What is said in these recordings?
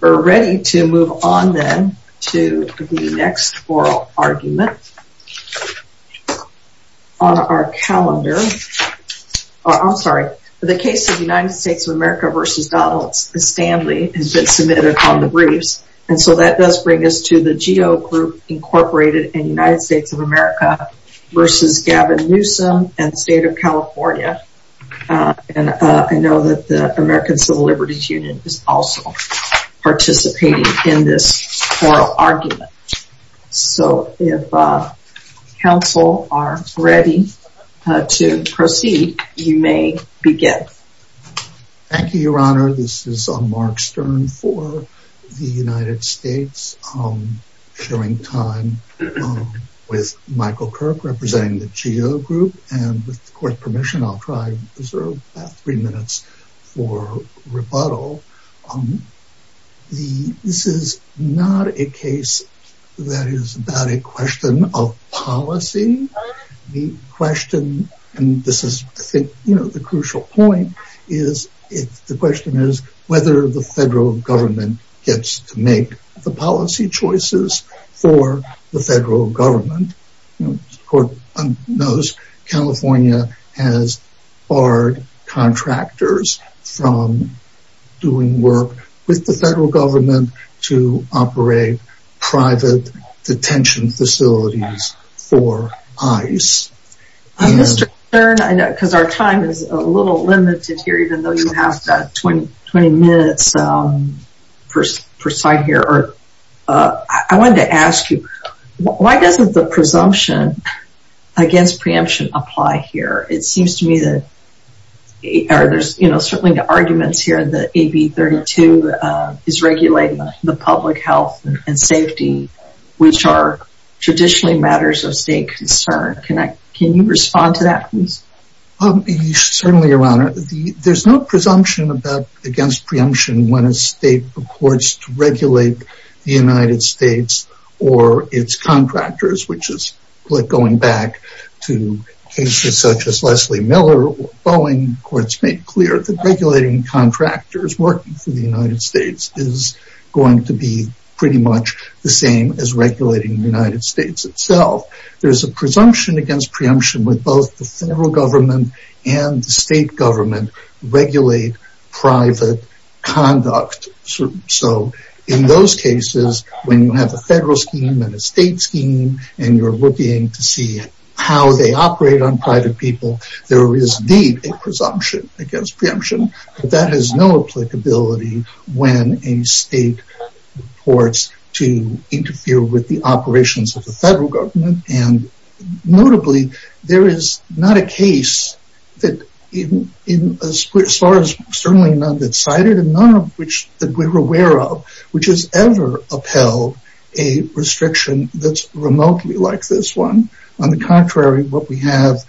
We're ready to move on then to the next oral argument on our calendar. I'm sorry, the case of United States of America v. Donald Stanley has been submitted on the briefs. And so that does bring us to the Geo Group, Inc. and United States of America v. Gavin Newsom and State of California. And I know that the American Civil Liberties Union is also participating in this oral argument. So if counsel are ready to proceed, you may begin. Thank you, Your Honor. This is Mark Stern for the United States, sharing time with Michael Kirk representing the Geo Group. And with court permission, I'll try to reserve three minutes for rebuttal. This is not a case that is about a question of policy. The question, and this is the crucial point, is whether the federal government gets to make the policy choices for the federal government. As the court knows, California has barred contractors from doing work with the federal government to operate private detention facilities for ICE. Mr. Stern, because our time is a little limited here, even though you have 20 minutes per side here. I wanted to ask you, why doesn't the presumption against preemption apply here? It seems to me that there's certainly arguments here that AB 32 is regulating the public health and safety, which are traditionally matters of state concern. Can you respond to that, please? Certainly, Your Honor. There's no presumption against preemption when a state purports to regulate the United States or its contractors, which is going back to cases such as Leslie Miller or Boeing. Courts made clear that regulating contractors working for the United States is going to be pretty much the same as regulating the United States itself. There's a presumption against preemption when both the federal government and the state government regulate private conduct. In those cases, when you have a federal scheme and a state scheme and you're looking to see how they operate on private people, there is indeed a presumption against preemption. But that has no applicability when a state purports to interfere with the operations of the federal government. And notably, there is not a case, as far as certainly none that's cited and none of which we're aware of, which has ever upheld a restriction that's remotely like this one. On the contrary, what we have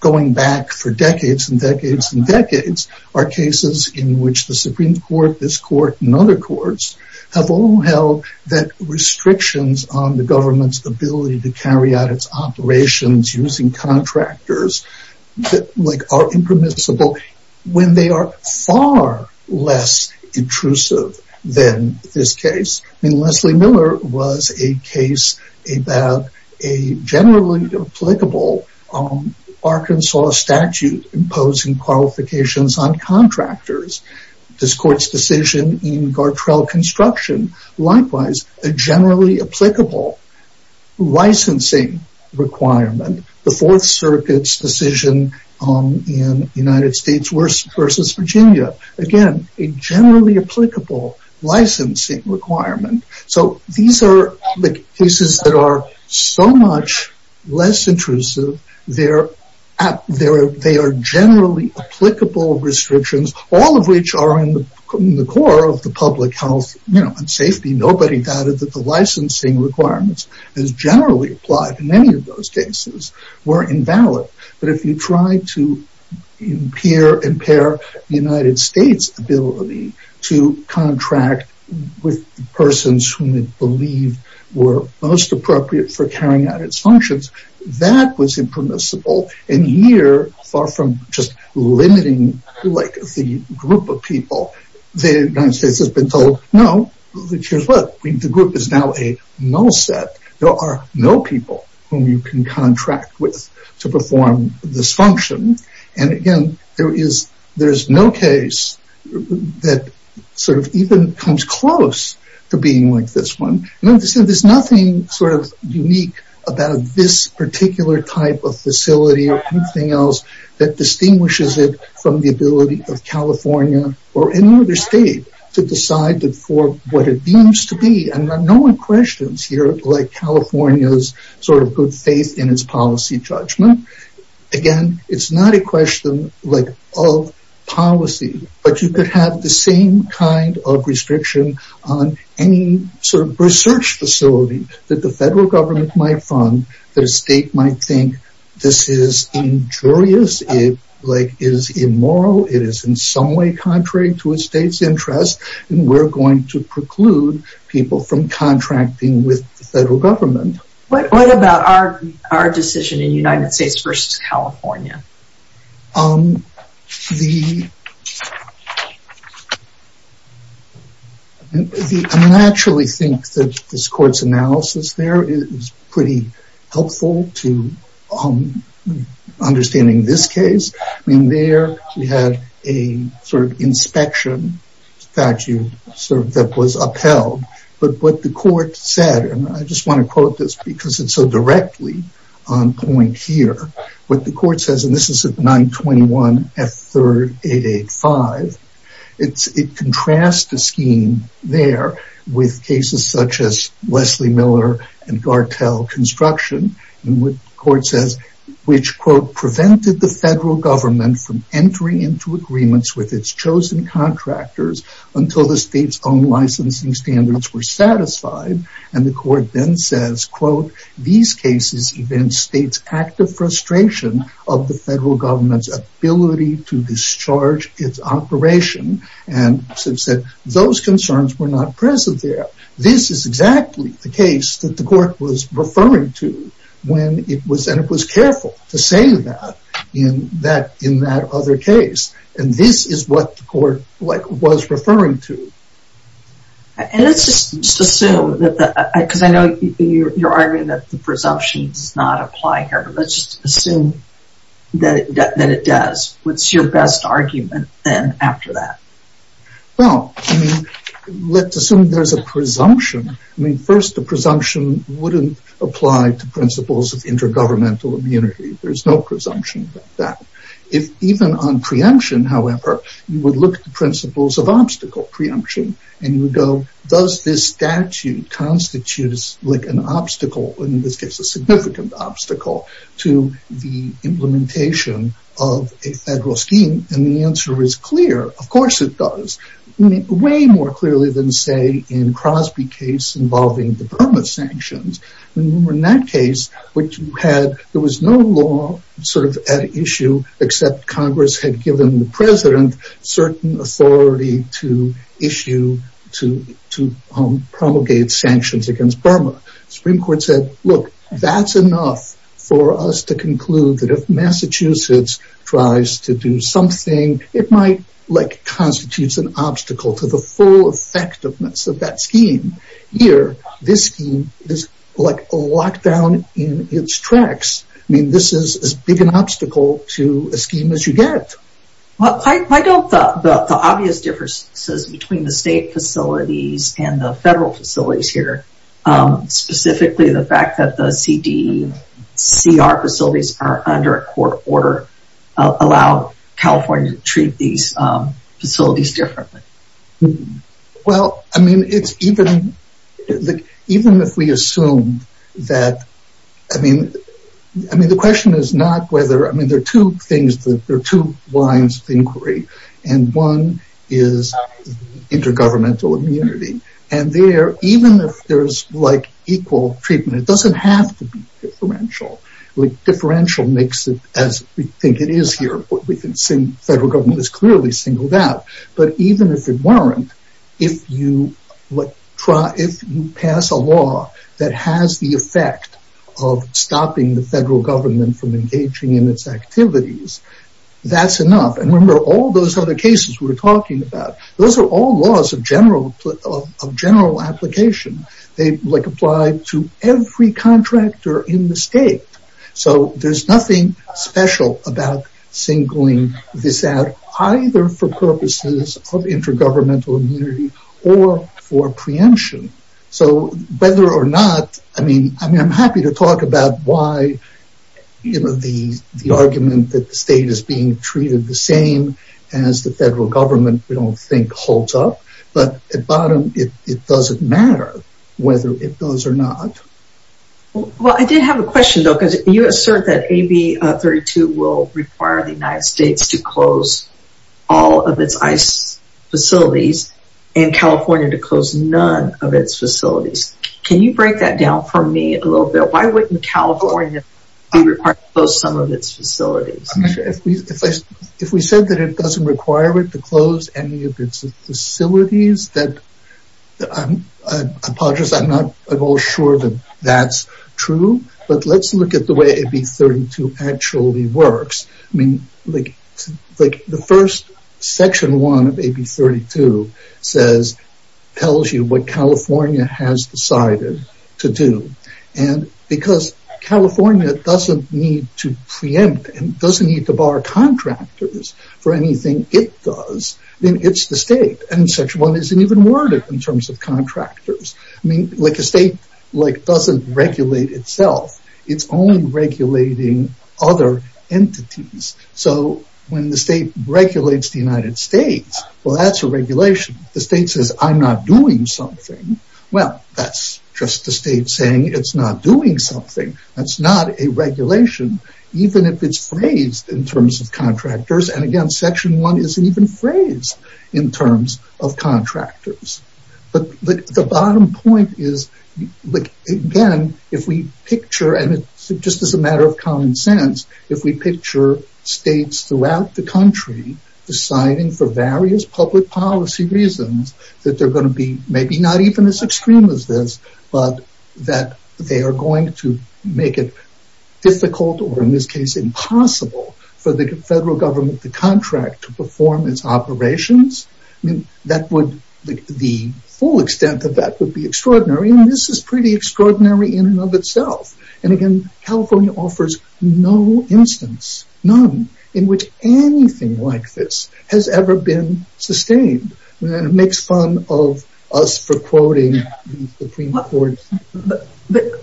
going back for decades and decades and decades are cases in which the Supreme Court, this court, and other courts have all held that restrictions on the government's ability to carry out its operations using contractors are impermissible when they are far less intrusive than this case. I mean, Leslie Miller was a case about a generally applicable Arkansas statute imposing qualifications on contractors. This court's decision in Gartrell Construction, likewise, a generally applicable licensing requirement. The Fourth Circuit's decision in the United States versus Virginia, again, a generally applicable licensing requirement. So these are the cases that are so much less intrusive, they are generally applicable restrictions, all of which are in the core of the public health and safety. Nobody doubted that the licensing requirements as generally applied in any of those cases were invalid. But if you try to impair the United States' ability to contract with persons whom it believed were most appropriate for carrying out its functions, that was impermissible. And here, far from just limiting the group of people, the United States has been told, no, here's what, the group is now a null set. There are no people whom you can contract with to perform this function. And again, there is no case that sort of even comes close to being like this one. There's nothing sort of unique about this particular type of facility or anything else that distinguishes it from the ability of California or any other state to decide for what it deems to be. And no one questions here like California's sort of good faith in its policy judgment. Again, it's not a question of policy, but you could have the same kind of restriction on any sort of research facility that the federal government might fund, that a state might think this is injurious, it is immoral, it is in some way contrary to a state's interest, and we're going to preclude people from contracting with the federal government. What about our decision in United States versus California? I naturally think that this court's analysis there is pretty helpful to understanding this case. I mean, there we had a sort of inspection statute that was upheld. But what the court said, and I just want to quote this because it's so directly on point here, what the court says, and this is at 921 F. 3rd 885, it contrasts the scheme there with cases such as Leslie Miller and Gartell Construction, which, quote, prevented the federal government from entering into agreements with its chosen contractors until the state's own licensing standards were satisfied. And the court then says, quote, these cases event states active frustration of the federal government's ability to discharge its operation. And since those concerns were not present there, this is exactly the case that the court was referring to, and it was careful to say that in that other case. And this is what the court was referring to. And let's just assume, because I know you're arguing that the presumption does not apply here, let's just assume that it does. What's your best argument then after that? Well, let's assume there's a presumption. I mean, first, the presumption wouldn't apply to principles of intergovernmental immunity. There's no presumption that if even on preemption, however, you would look at the principles of obstacle preemption and you go, does this statute constitutes like an obstacle in this case, a significant obstacle to the implementation of a federal scheme? And the answer is clear. Of course it does. Way more clearly than, say, in Crosby case involving the Burma sanctions. In that case, there was no law sort of at issue, except Congress had given the president certain authority to issue, to promulgate sanctions against Burma. Supreme Court said, look, that's enough for us to conclude that if Massachusetts tries to do something, it might like constitutes an obstacle to the full effectiveness of that scheme. Here, this scheme is like locked down in its tracks. I mean, this is as big an obstacle to a scheme as you get. Why don't the obvious differences between the state facilities and the federal facilities here, specifically the fact that the CDCR facilities are under a court order, allow California to treat these facilities differently? Well, I mean, it's even, even if we assume that, I mean, the question is not whether, I mean, there are two things, there are two lines of inquiry. And one is intergovernmental immunity. And there, even if there's like equal treatment, it doesn't have to be differential. Differential makes it as we think it is here. We can assume federal government is clearly singled out. But even if it weren't, if you pass a law that has the effect of stopping the federal government from engaging in its activities, that's enough. And remember, all those other cases we were talking about, those are all laws of general application. They like apply to every contractor in the state. So there's nothing special about singling this out, either for purposes of intergovernmental immunity or for preemption. So whether or not, I mean, I'm happy to talk about why, you know, the argument that the state is being treated the same as the federal government, we don't think holds up. But at bottom, it doesn't matter whether it does or not. Well, I did have a question, though, because you assert that AB 32 will require the United States to close all of its ICE facilities and California to close none of its facilities. Can you break that down for me a little bit? Why wouldn't California be required to close some of its facilities? If we said that it doesn't require it to close any of its facilities, I apologize, I'm not at all sure that that's true. But let's look at the way AB 32 actually works. I mean, the first section one of AB 32 tells you what California has decided to do. And because California doesn't need to preempt and doesn't need to bar contractors for anything it does, then it's the state and section one isn't even worded in terms of contractors. I mean, like a state like doesn't regulate itself. It's only regulating other entities. So when the state regulates the United States, well, that's a regulation. The state says I'm not doing something. Well, that's just the state saying it's not doing something. That's not a regulation, even if it's phrased in terms of contractors. And again, section one isn't even phrased in terms of contractors. But the bottom point is, again, if we picture and just as a matter of common sense, if we picture states throughout the country deciding for various public policy reasons that they're going to be maybe not even as extreme as this, but that they are going to make it difficult or in this case impossible for the federal government to contract to perform its operations. I mean, that would be the full extent of that would be extraordinary. And this is pretty extraordinary in and of itself. And again, California offers no instance, none, in which anything like this has ever been sustained. And it makes fun of us for quoting the Supreme Court. But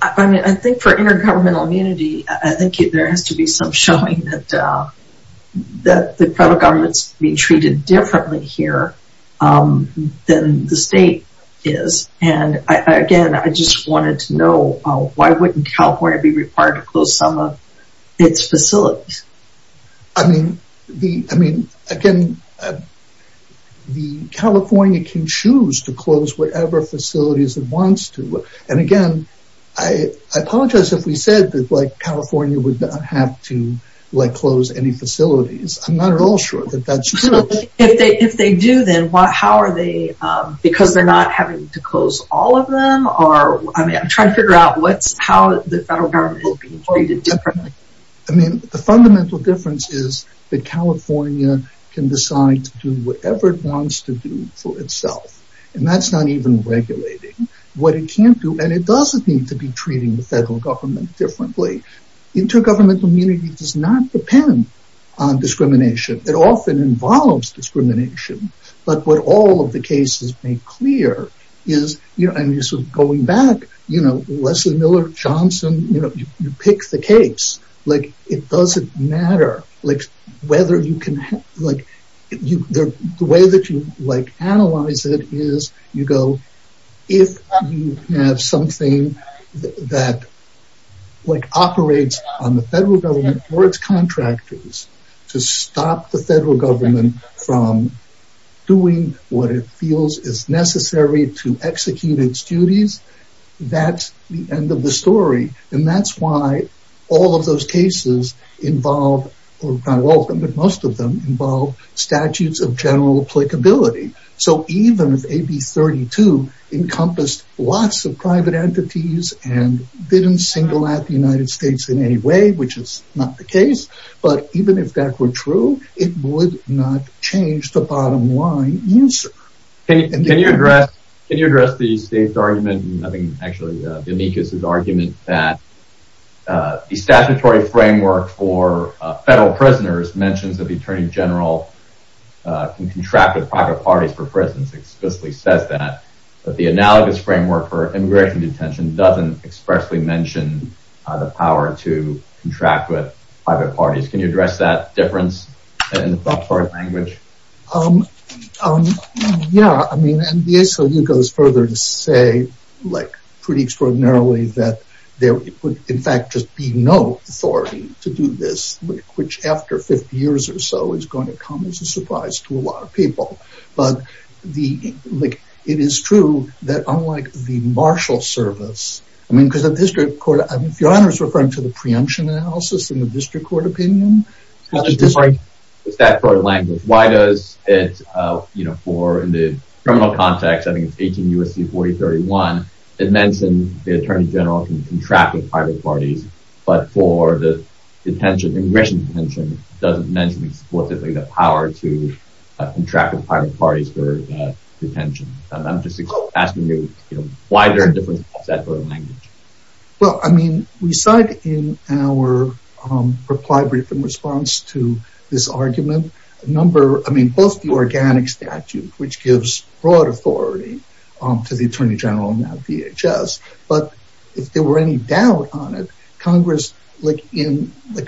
I mean, I think for intergovernmental immunity, I think there has to be some showing that the federal government's being treated differently here than the state is. And again, I just wanted to know, why wouldn't California be required to close some of its facilities? I mean, again, California can choose to close whatever facilities it wants to. And again, I apologize if we said that California would not have to close any facilities. I'm not at all sure that that's true. If they do, then how are they, because they're not having to close all of them? I'm trying to figure out how the federal government is being treated differently. I mean, the fundamental difference is that California can decide to do whatever it wants to do for itself. And that's not even regulating what it can't do. And it doesn't need to be treating the federal government differently. Intergovernmental immunity does not depend on discrimination. It often involves discrimination. But what all of the cases make clear is, going back, Leslie Miller, Johnson, you pick the case. It doesn't matter whether you can, the way that you analyze it is, you go, if you have something that operates on the federal government or its contractors to stop the federal government from doing what it feels is necessary to execute its duties, that's the end of the story. And that's why all of those cases involve, or not all of them, but most of them, involve statutes of general applicability. So even if AB 32 encompassed lots of private entities and didn't single out the United States in any way, which is not the case, but even if that were true, it would not change the bottom line answer. Can you address the state's argument, I think, actually, the amicus' argument that the statutory framework for federal prisoners mentions that the attorney general can contract with private parties for prisons explicitly says that, that the analogous framework for immigration detention doesn't expressly mention the power to contract with private parties. Can you address that difference? Yeah, I mean, the ACLU goes further to say, like, pretty extraordinarily that there would, in fact, just be no authority to do this, which after 50 years or so is going to come as a surprise to a lot of people. But the, like, it is true that unlike the marshal service, I mean, because the district court, if your honor is referring to the preemption analysis in the district court opinion. It's that sort of language. Why does it, you know, for in the criminal context, I think it's 18 U.S.C. 4031, it mentions the attorney general can contract with private parties, but for the detention, immigration detention, doesn't mention explicitly the power to contract with private parties for detention. I'm just asking you, you know, why there's a difference in that sort of language? Well, I mean, we cite in our reply brief in response to this argument a number, I mean, both the organic statute, which gives broad authority to the attorney general and now DHS. But if there were any doubt on it, Congress, like in the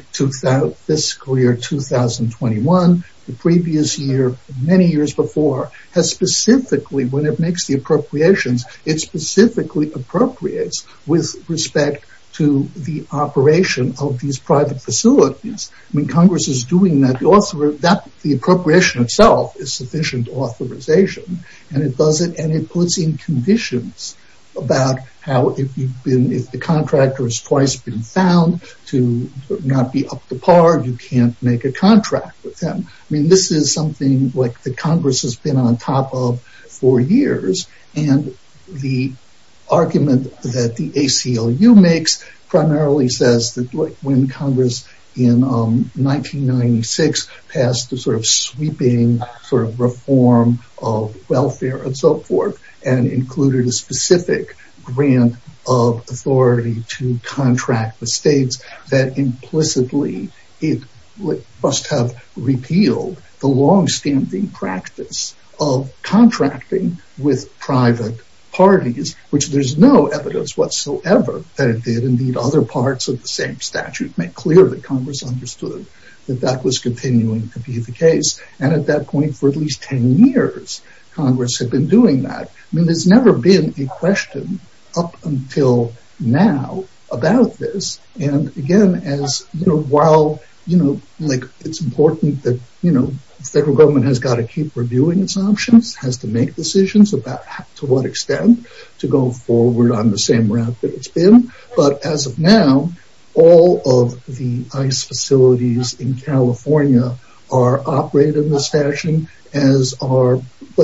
fiscal year 2021, the previous year, many years before, has specifically, when it makes the appropriations, it specifically appropriates with respect to the operation of these private facilities. I mean, Congress is doing that. The appropriation itself is sufficient authorization, and it does it and it puts in conditions about how if you've been, if the contractor has twice been found to not be up to par, you can't make a contract with them. I mean, this is something like the Congress has been on top of for years. And the argument that the ACLU makes primarily says that when Congress in 1996 passed the sort of sweeping sort of reform of welfare and so forth, and included a specific grant of authority to contract the states, that implicitly it must have repealed the longstanding practice of contracting with private parties, which there's no evidence whatsoever that it did. And indeed, other parts of the same statute make clear that Congress understood that that was continuing to be the case. And at that point, for at least 10 years, Congress had been doing that. I mean, there's never been a question up until now about this. And again, as you know, while, you know, like, it's important that, you know, the federal government has got to keep reviewing its options, has to make decisions about to what extent to go forward on the same route that it's been. But as of now, all of the ICE facilities in California are operated in this fashion, as are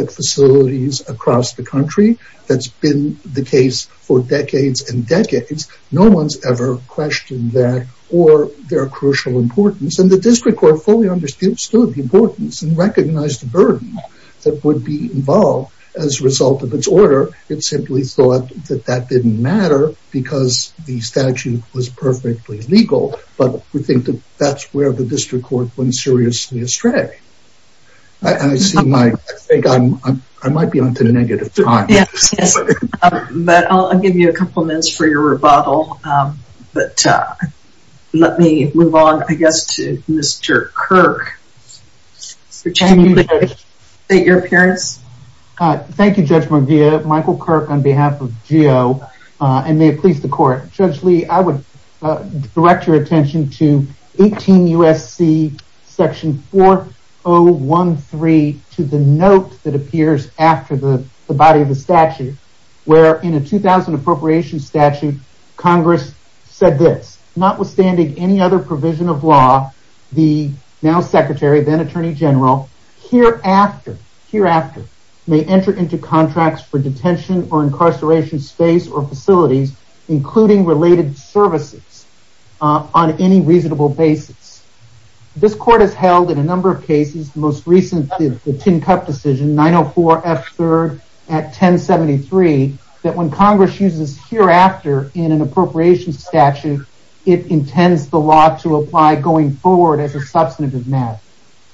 facilities across the country. That's been the case for decades and decades. No one's ever questioned that or their crucial importance. And the district court fully understood the importance and recognized the burden that would be involved as a result of its order. It simply thought that that didn't matter because the statute was perfectly legal. But we think that that's where the district court went seriously astray. I think I might be on to the negative time. But I'll give you a couple minutes for your rebuttal. But let me move on, I guess, to Mr. Kirk. Mr. Chairman, would you like to state your appearance? Thank you, Judge McGeough. Michael Kirk on behalf of GEO and may it please the court. Judge Lee, I would direct your attention to 18 U.S.C. section 4013 to the note that appears after the body of the statute where in a 2000 appropriation statute, Congress said this, notwithstanding any other provision of law, the now Secretary, then Attorney General, hereafter may enter into contracts for detention or incarceration space or facilities, including related services on any reasonable basis. This court has held in a number of cases, most recently the tin cup decision, 904F3 at 1073, that when Congress uses hereafter in an appropriation statute, it intends the law to apply going forward as a substantive matter.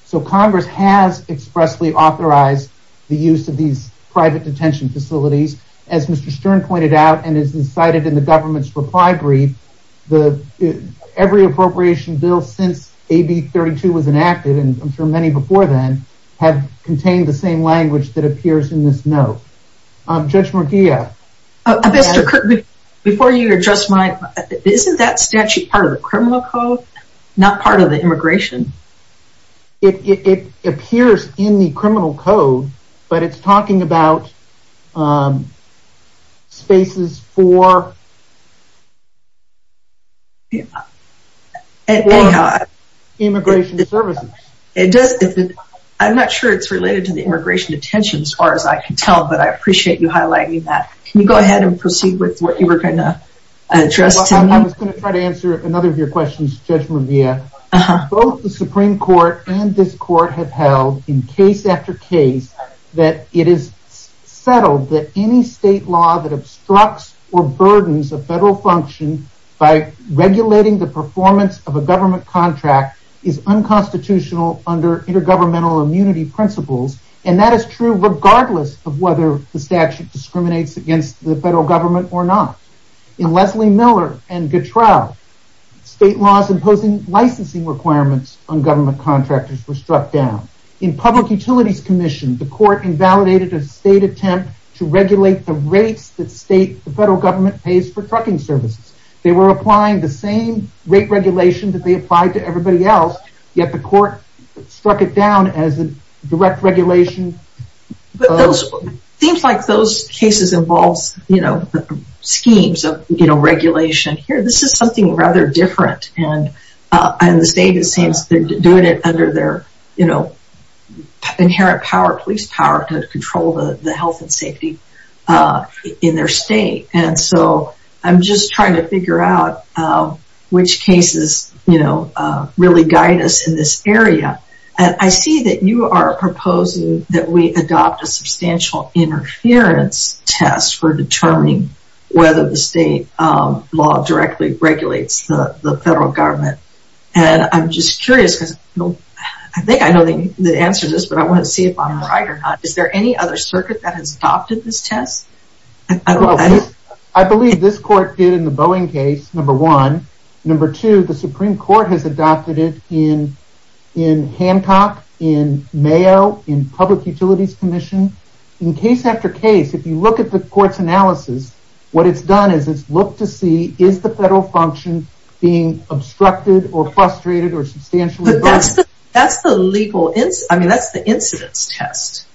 So Congress has expressly authorized the use of these private detention facilities. As Mr. Stern pointed out and is incited in the government's reply brief, every appropriation bill since AB 32 was enacted, and I'm sure many before then, have contained the same language that appears in this note. Judge McGeough. Mr. Kirk, before you address my, isn't that statute part of the criminal code, not part of the immigration? It appears in the criminal code, but it's talking about spaces for immigration services. I'm not sure it's related to the immigration detention as far as I can tell, but I appreciate you highlighting that. Can you go ahead and proceed with what you were going to address to me? I was going to try to answer another of your questions, Judge McGeough. Both the Supreme Court and this court have held in case after case that it is settled that any state law that obstructs or burdens a federal function by regulating the performance of a government contract is unconstitutional under intergovernmental immunity principles. And that is true regardless of whether the statute discriminates against the federal government or not. In Leslie Miller and Gutrell, state laws imposing licensing requirements on government contractors were struck down. In Public Utilities Commission, the court invalidated a state attempt to regulate the rates that the federal government pays for trucking services. They were applying the same rate regulation that they applied to everybody else, yet the court struck it down as a direct regulation. It seems like those cases involve schemes of regulation. This is something rather different. The state is doing it under their inherent police power to control the health and safety in their state. I'm just trying to figure out which cases really guide us in this area. I see that you are proposing that we adopt a substantial interference test for determining whether the state law directly regulates the federal government. I'm just curious because I think I know the answer to this, but I want to see if I'm right or not. Is there any other circuit that has adopted this test? I believe this court did in the Boeing case, number one. Number two, the Supreme Court has adopted it in Hancock, in Mayo, in Public Utilities Commission. In case after case, if you look at the court's analysis, what it's done is it's looked to see is the federal function being obstructed or frustrated or substantially burdened. That's the legal, I mean that's the incidence test.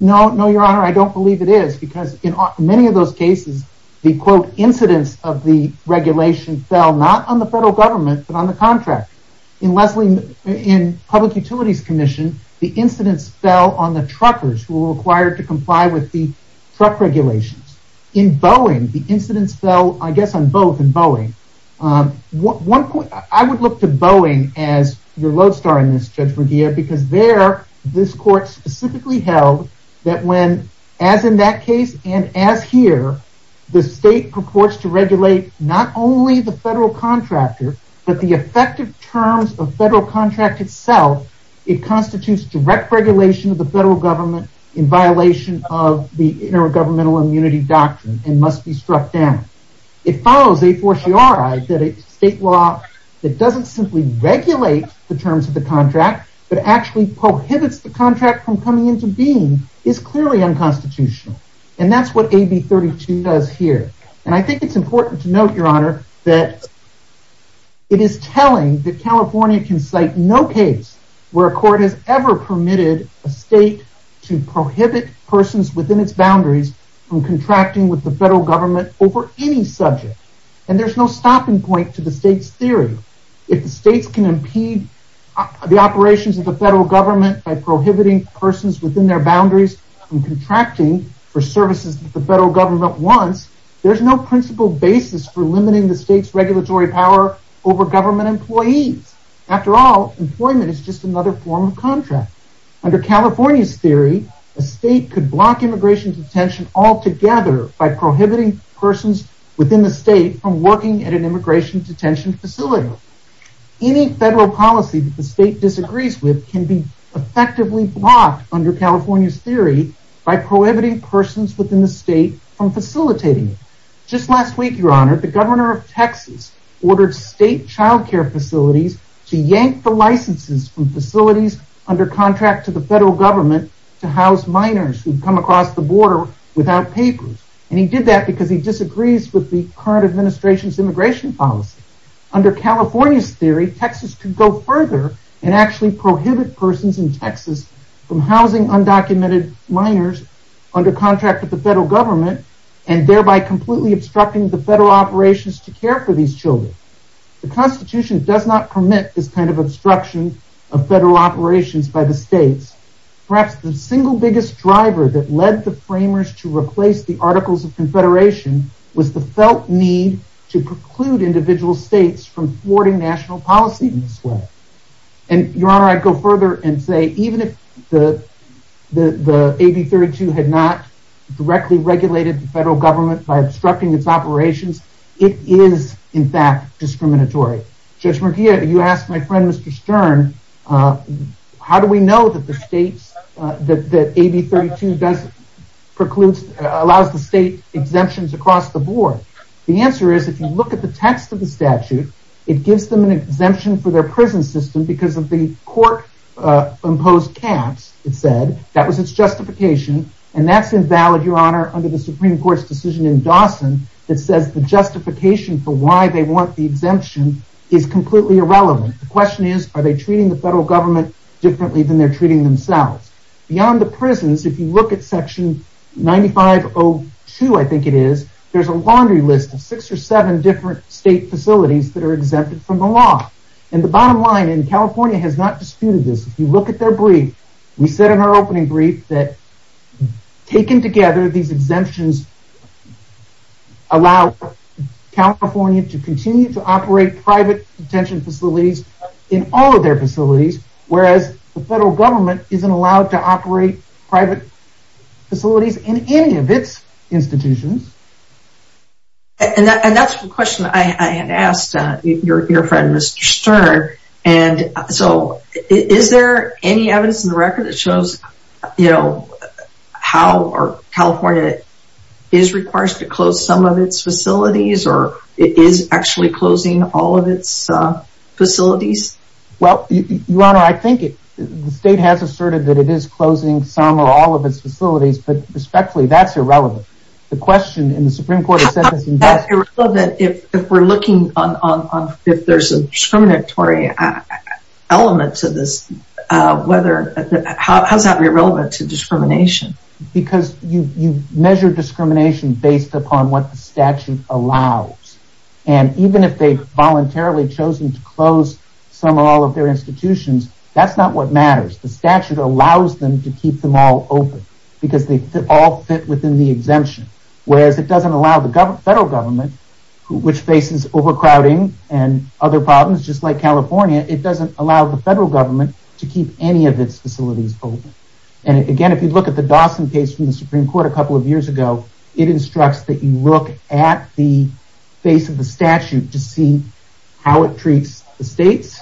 No, your honor, I don't believe it is because in many of those cases, the quote incidence of the regulation fell not on the federal government but on the contract. In Public Utilities Commission, the incidence fell on the truckers who were required to comply with the truck regulations. In Boeing, the incidence fell, I guess, on both in Boeing. I would look to Boeing as your lodestar in this, Judge McGeer, because there, this court specifically held that when, as in that case and as here, the state purports to regulate not only the federal contractor but the effective terms of federal contract itself. It constitutes direct regulation of the federal government in violation of the intergovernmental immunity doctrine and must be struck down. It follows a fortiori that a state law that doesn't simply regulate the terms of the contract but actually prohibits the contract from coming into being is clearly unconstitutional. That's what AB 32 does here. I think it's important to note, your honor, that it is telling that California can cite no case where a court has ever permitted a state to prohibit persons within its boundaries from contracting with the federal government over any subject. There's no stopping point to the state's theory. If the states can impede the operations of the federal government by prohibiting persons within their boundaries from contracting for services that the federal government wants, there's no principle basis for limiting the state's regulatory power over government employees. After all, employment is just another form of contract. Under California's theory, a state could block immigration detention altogether by prohibiting persons within the state from working at an immigration detention facility. Any federal policy the state disagrees with can be effectively blocked under California's theory by prohibiting persons within the state from facilitating it. Just last week, your honor, the governor of Texas ordered state child care facilities to yank the licenses from facilities under contract to the federal government to house minors who come across the border without papers. He did that because he disagrees with the current administration's immigration policy. Under California's theory, Texas could go further and actually prohibit persons in Texas from housing undocumented minors under contract with the federal government and thereby completely obstructing the federal operations to care for these children. The Constitution does not permit this kind of obstruction of federal operations by the states. Perhaps the single biggest driver that led the framers to replace the Articles of Confederation was the felt need to preclude individual states from thwarting national policy in this way. Your honor, I'd go further and say even if the AB 32 had not directly regulated the federal government by obstructing its operations, it is, in fact, discriminatory. Judge Murguia, you asked my friend, Mr. Stern, how do we know that AB 32 allows the state exemptions across the board? The answer is, if you look at the text of the statute, it gives them an exemption for their prison system because of the court-imposed caps, it said. That was its justification, and that's invalid, your honor, under the Supreme Court's decision in Dawson that says the justification for why they want the exemption is completely irrelevant. The question is, are they treating the federal government differently than they're treating themselves? Beyond the prisons, if you look at section 9502, I think it is, there's a laundry list of six or seven different state facilities that are exempted from the law. The bottom line, and California has not disputed this, if you look at their brief, we said in our opening brief that taken together, these exemptions allow California to continue to operate private detention facilities in all of their facilities, whereas the federal government isn't allowed to operate private facilities in any of its institutions. And that's the question I had asked your friend, Mr. Stern, and so is there any evidence in the record that shows, you know, how California is required to close some of its facilities or it is actually closing all of its facilities? Well, Your Honor, I think the state has asserted that it is closing some or all of its facilities, but respectfully, that's irrelevant. The question in the Supreme Court has said this in Dawson. How is that irrelevant if we're looking on, if there's a discriminatory element to this, how is that irrelevant to discrimination? Because you measure discrimination based upon what the statute allows. And even if they've voluntarily chosen to close some or all of their institutions, that's not what matters. The statute allows them to keep them all open because they all fit within the exemption, whereas it doesn't allow the federal government, which faces overcrowding and other problems, just like California, it doesn't allow the federal government to keep any of its facilities open. And again, if you look at the Dawson case from the Supreme Court a couple of years ago, it instructs that you look at the face of the statute to see how it treats the states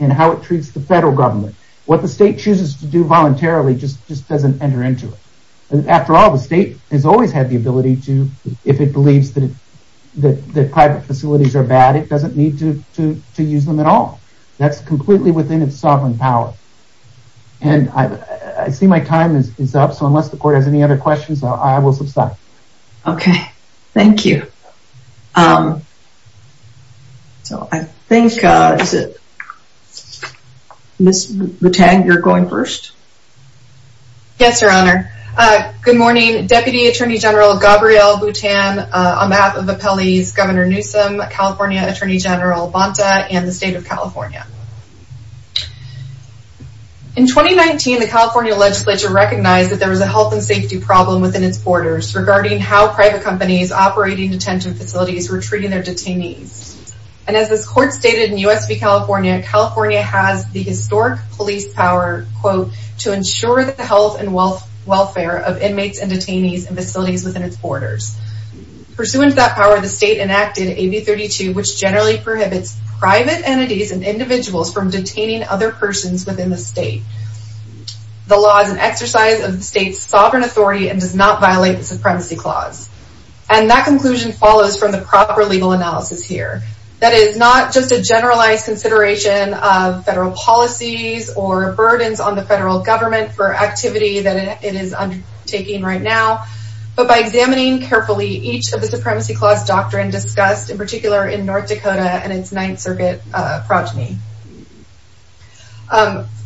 and how it treats the federal government. What the state chooses to do voluntarily just doesn't enter into it. After all, the state has always had the ability to, if it believes that private facilities are bad, it doesn't need to use them at all. That's completely within its sovereign power. And I see my time is up, so unless the court has any other questions, I will subside. Okay, thank you. So I think, is it Ms. Boutin, you're going first? Yes, Your Honor. Good morning, Deputy Attorney General Gabrielle Boutin, on behalf of Appellee's Governor Newsom, California Attorney General Bonta, and the state of California. In 2019, the California legislature recognized that there was a health and safety problem within its borders regarding how private companies operating detention facilities were treating their detainees. And as this court stated in U.S. v. California, California has the historic police power, quote, to ensure the health and welfare of inmates and detainees in facilities within its borders. Pursuant to that power, the state enacted AB 32, which generally prohibits private entities and individuals from detaining other persons within the state. The law is an exercise of the state's sovereign authority and does not violate the Supremacy Clause. And that conclusion follows from the proper legal analysis here. That is not just a generalized consideration of federal policies or burdens on the federal government for activity that it is undertaking right now, but by examining carefully each of the Supremacy Clause doctrine discussed, in particular in North Dakota and its Ninth Circuit progeny.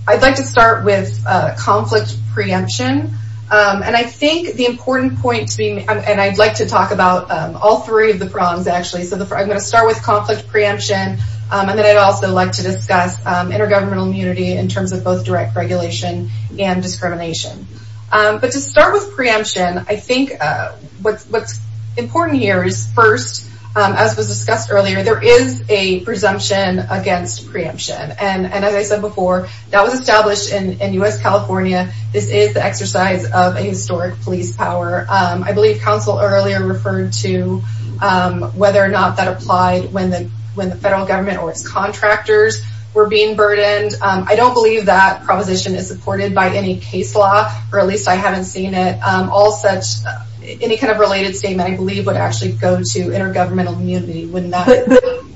I'd like to start with conflict preemption. And I think the important point, and I'd like to talk about all three of the prongs, actually. So I'm going to start with conflict preemption, and then I'd also like to discuss intergovernmental immunity in terms of both direct regulation and discrimination. But to start with preemption, I think what's important here is first, as was discussed earlier, there is a presumption against preemption. And as I said before, that was established in U.S. California. This is the exercise of a historic police power. I believe Council earlier referred to whether or not that applied when the federal government or its contractors were being burdened. I don't believe that proposition is supported by any case law, or at least I haven't seen it. Any kind of related statement, I believe, would actually go to intergovernmental immunity.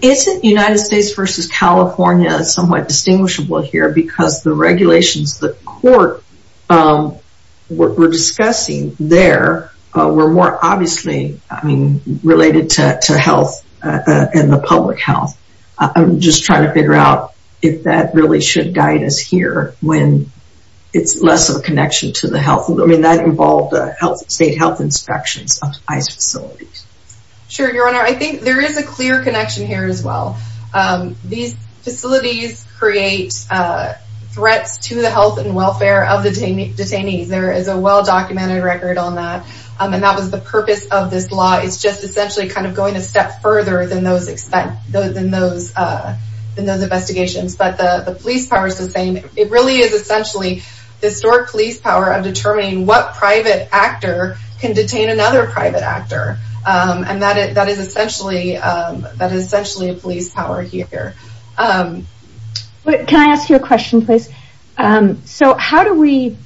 Isn't United States versus California somewhat distinguishable here because the regulations the court were discussing there were more obviously related to health and the public health? I'm just trying to figure out if that really should guide us here when it's less of a connection to the health. I mean, that involved state health inspections of ICE facilities. Sure, Your Honor. I think there is a clear connection here as well. These facilities create threats to the health and welfare of the detainees. There is a well-documented record on that. And that was the purpose of this law. It's just essentially kind of going a step further than those investigations. But the police power is the same. It really is essentially historic police power of determining what private actor can detain another private actor. And that is essentially a police power here. Can I ask you a question, please? So how do we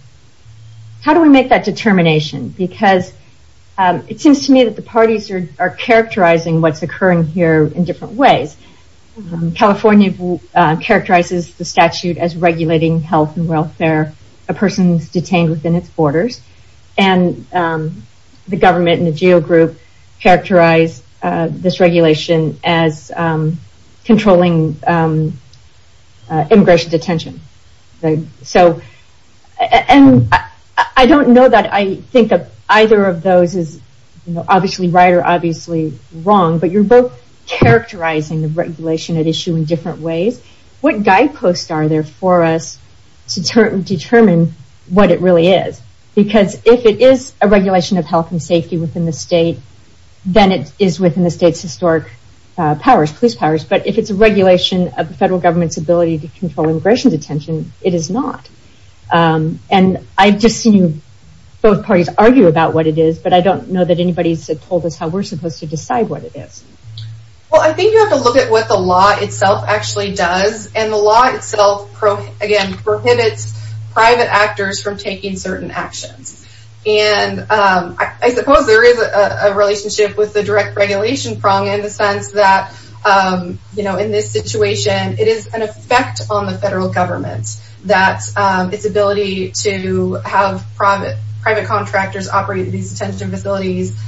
make that determination? Because it seems to me that the parties are characterizing what's occurring here in different ways. California characterizes the statute as regulating health and welfare of persons detained within its borders. And the government and the GEO group characterize this regulation as controlling immigration detention. I don't know that I think either of those is obviously right or obviously wrong. But you're both characterizing the regulation at issue in different ways. What guideposts are there for us to determine what it really is? Because if it is a regulation of health and safety within the state, then it is within the state's historic police powers. But if it's a regulation of the federal government's ability to control immigration detention, it is not. And I've just seen both parties argue about what it is, but I don't know that anybody's told us how we're supposed to decide what it is. Well, I think you have to look at what the law itself actually does. And the law itself, again, prohibits private actors from taking certain actions. And I suppose there is a relationship with the direct regulation prong in the sense that in this situation, it is an effect on the federal government that its ability to have private contractors operate these detention facilities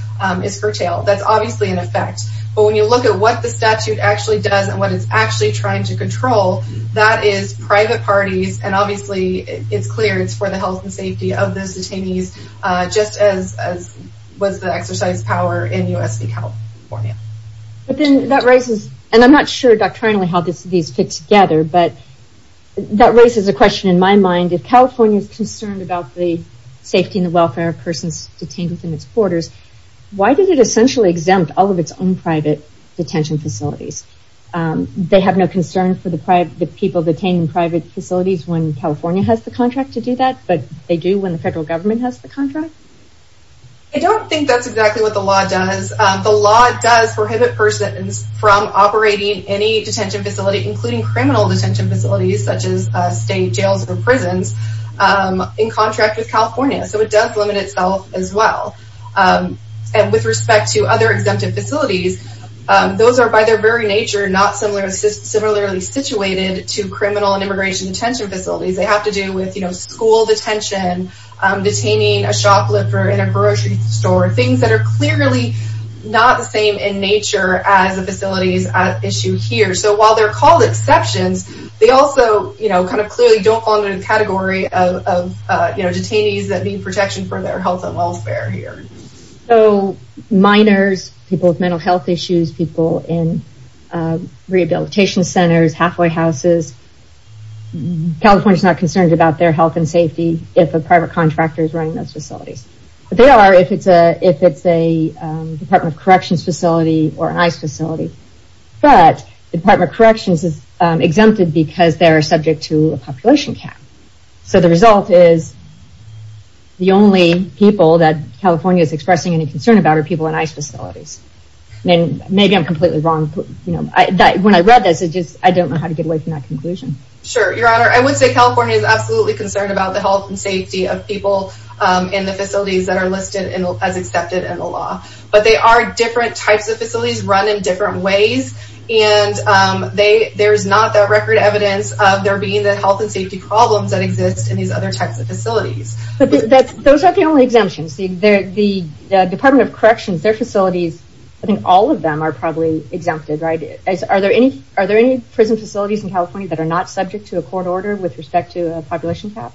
is curtailed. That's obviously an effect. But when you look at what the statute actually does and what it's actually trying to control, that is private parties. And obviously, it's clear it's for the health and safety of those detainees, just as was the exercise of power in U.S.C. California. And I'm not sure doctrinally how these fit together, but that raises a question in my mind. If California is concerned about the safety and the welfare of persons detained within its borders, why did it essentially exempt all of its own private detention facilities? They have no concern for the people detained in private facilities when California has the contract to do that, but they do when the federal government has the contract? I don't think that's exactly what the law does. The law does prohibit persons from operating any detention facility, including criminal detention facilities such as state jails or prisons, in contract with California. So it does limit itself as well. And with respect to other exempted facilities, those are by their very nature not similarly situated to criminal and immigration detention facilities. They have to do with school detention, detaining a shoplifter in a grocery store, things that are clearly not the same in nature as the facilities at issue here. So while they're called exceptions, they also clearly don't fall into the category of detainees that need protection for their health and welfare here. So minors, people with mental health issues, people in rehabilitation centers, halfway houses, California is not concerned about their health and safety if a private contractor is running those facilities. They are if it's a Department of Corrections facility or an ICE facility. But the Department of Corrections is exempted because they're subject to a population cap. So the result is the only people that California is expressing any concern about are people in ICE facilities. Maybe I'm completely wrong. When I read this, I don't know how to get away from that conclusion. Sure, Your Honor. I would say California is absolutely concerned about the health and safety of people in the facilities that are listed as accepted in the law. But they are different types of facilities run in different ways. And there's not that record evidence of there being health and safety problems that exist in these other types of facilities. But those are the only exemptions. The Department of Corrections, their facilities, I think all of them are probably exempted, right? Are there any prison facilities in California that are not subject to a court order with respect to a population cap?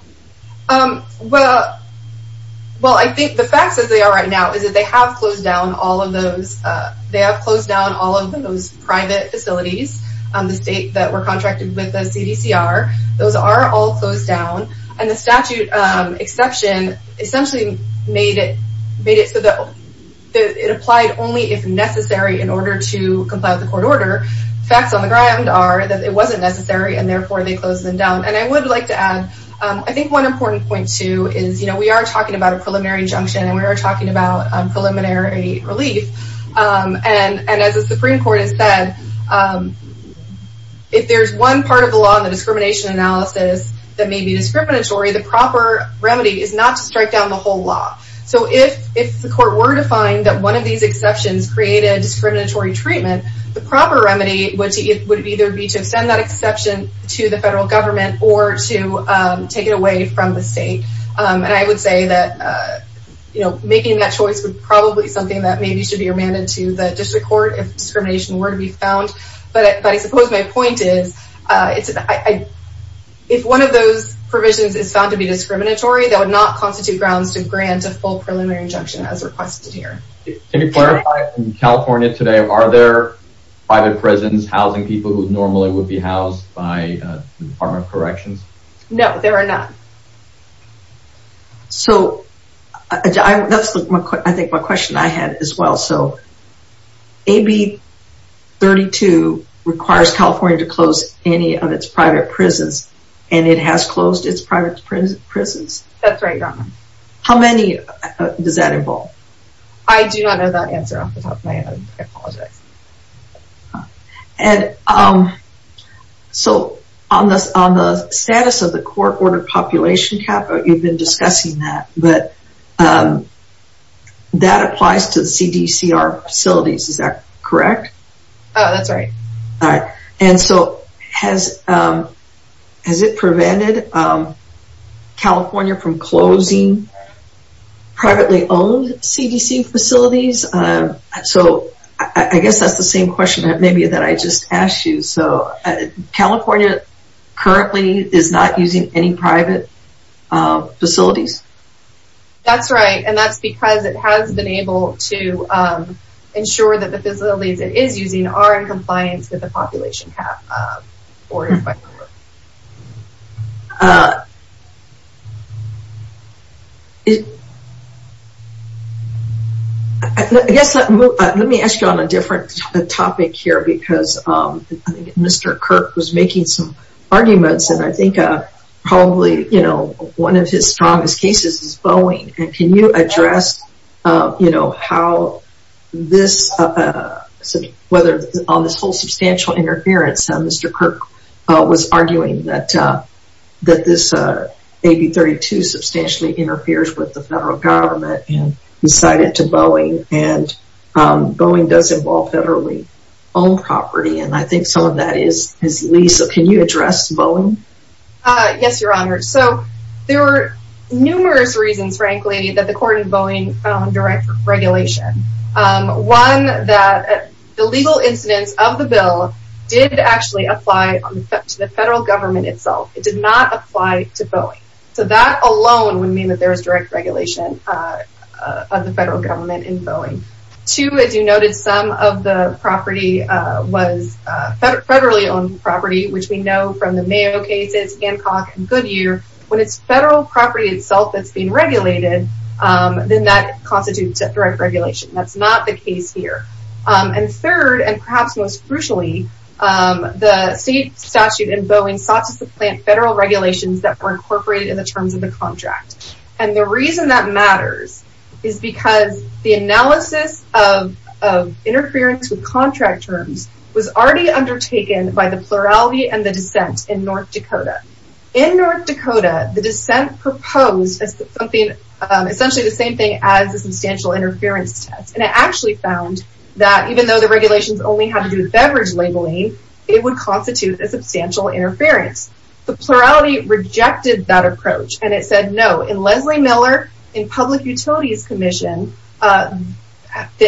Well, I think the facts as they are right now is that they have closed down all of those. They have closed down all of those private facilities, the state that were contracted with the CDCR. Those are all closed down. And the statute exception essentially made it so that it applied only if necessary in order to comply with the court order. Facts on the ground are that it wasn't necessary, and therefore they closed them down. And I would like to add, I think one important point, too, is we are talking about a preliminary injunction, and we are talking about preliminary relief. And as the Supreme Court has said, if there's one part of the law in the discrimination analysis that may be discriminatory, the proper remedy is not to strike down the whole law. So if the court were to find that one of these exceptions created discriminatory treatment, the proper remedy would either be to send that exception to the federal government or to take it away from the state. And I would say that making that choice would probably be something that maybe should be remanded to the district court if discrimination were to be found. But I suppose my point is if one of those provisions is found to be discriminatory, that would not constitute grounds to grant a full preliminary injunction as requested here. Can you clarify, in California today, are there private prisons housing people who normally would be housed by the Department of Corrections? No, there are none. So that's, I think, my question I had as well. So AB 32 requires California to close any of its private prisons, and it has closed its private prisons. That's right, Your Honor. How many does that involve? I do not know that answer off the top of my head. I apologize. And so on the status of the court-ordered population cap, you've been discussing that, but that applies to the CDCR facilities, is that correct? Oh, that's right. And so has it prevented California from closing privately-owned CDC facilities? So I guess that's the same question maybe that I just asked you. So California currently is not using any private facilities? That's right, and that's because it has been able to ensure that the facilities it is using are in compliance with the population cap. Let me ask you on a different topic here because Mr. Kirk was making some arguments, and I think probably one of his strongest cases is Boeing. And can you address how this, whether on this whole substantial interference, Mr. Kirk was arguing that this AB 32 substantially interferes with the federal government and decided to Boeing, and Boeing does involve federally-owned property, and I think some of that is his lease. Can you address Boeing? Yes, Your Honor. So there are numerous reasons, frankly, that the court in Boeing found direct regulation. One, that the legal incidence of the bill did actually apply to the federal government itself. It did not apply to Boeing. So that alone would mean that there is direct regulation of the federal government in Boeing. Two, as you noted, some of the property was federally-owned property, which we know from the Mayo cases, Hancock, and Goodyear. When it's federal property itself that's being regulated, then that constitutes direct regulation. That's not the case here. And third, and perhaps most crucially, the state statute in Boeing sought to supplant federal regulations that were incorporated in the terms of the contract. And the reason that matters is because the analysis of interference with contract terms was already undertaken by the plurality and the dissent in North Dakota. In North Dakota, the dissent proposed essentially the same thing as a substantial interference test, and it actually found that even though the regulations only had to do with beverage labeling, it would constitute a substantial interference. The plurality rejected that approach, and it said no. In Leslie Miller, in Public Utilities Commission, the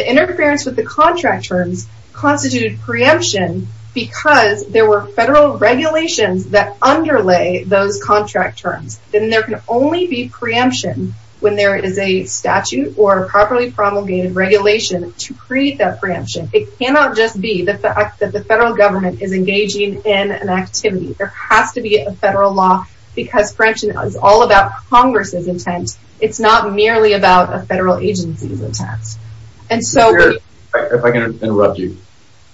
interference with the contract terms constituted preemption because there were federal regulations that underlay those contract terms. Then there can only be preemption when there is a statute or a properly promulgated regulation to create that preemption. It cannot just be the fact that the federal government is engaging in an activity. There has to be a federal law because preemption is all about Congress's intent. It's not merely about a federal agency's intent. If I can interrupt you.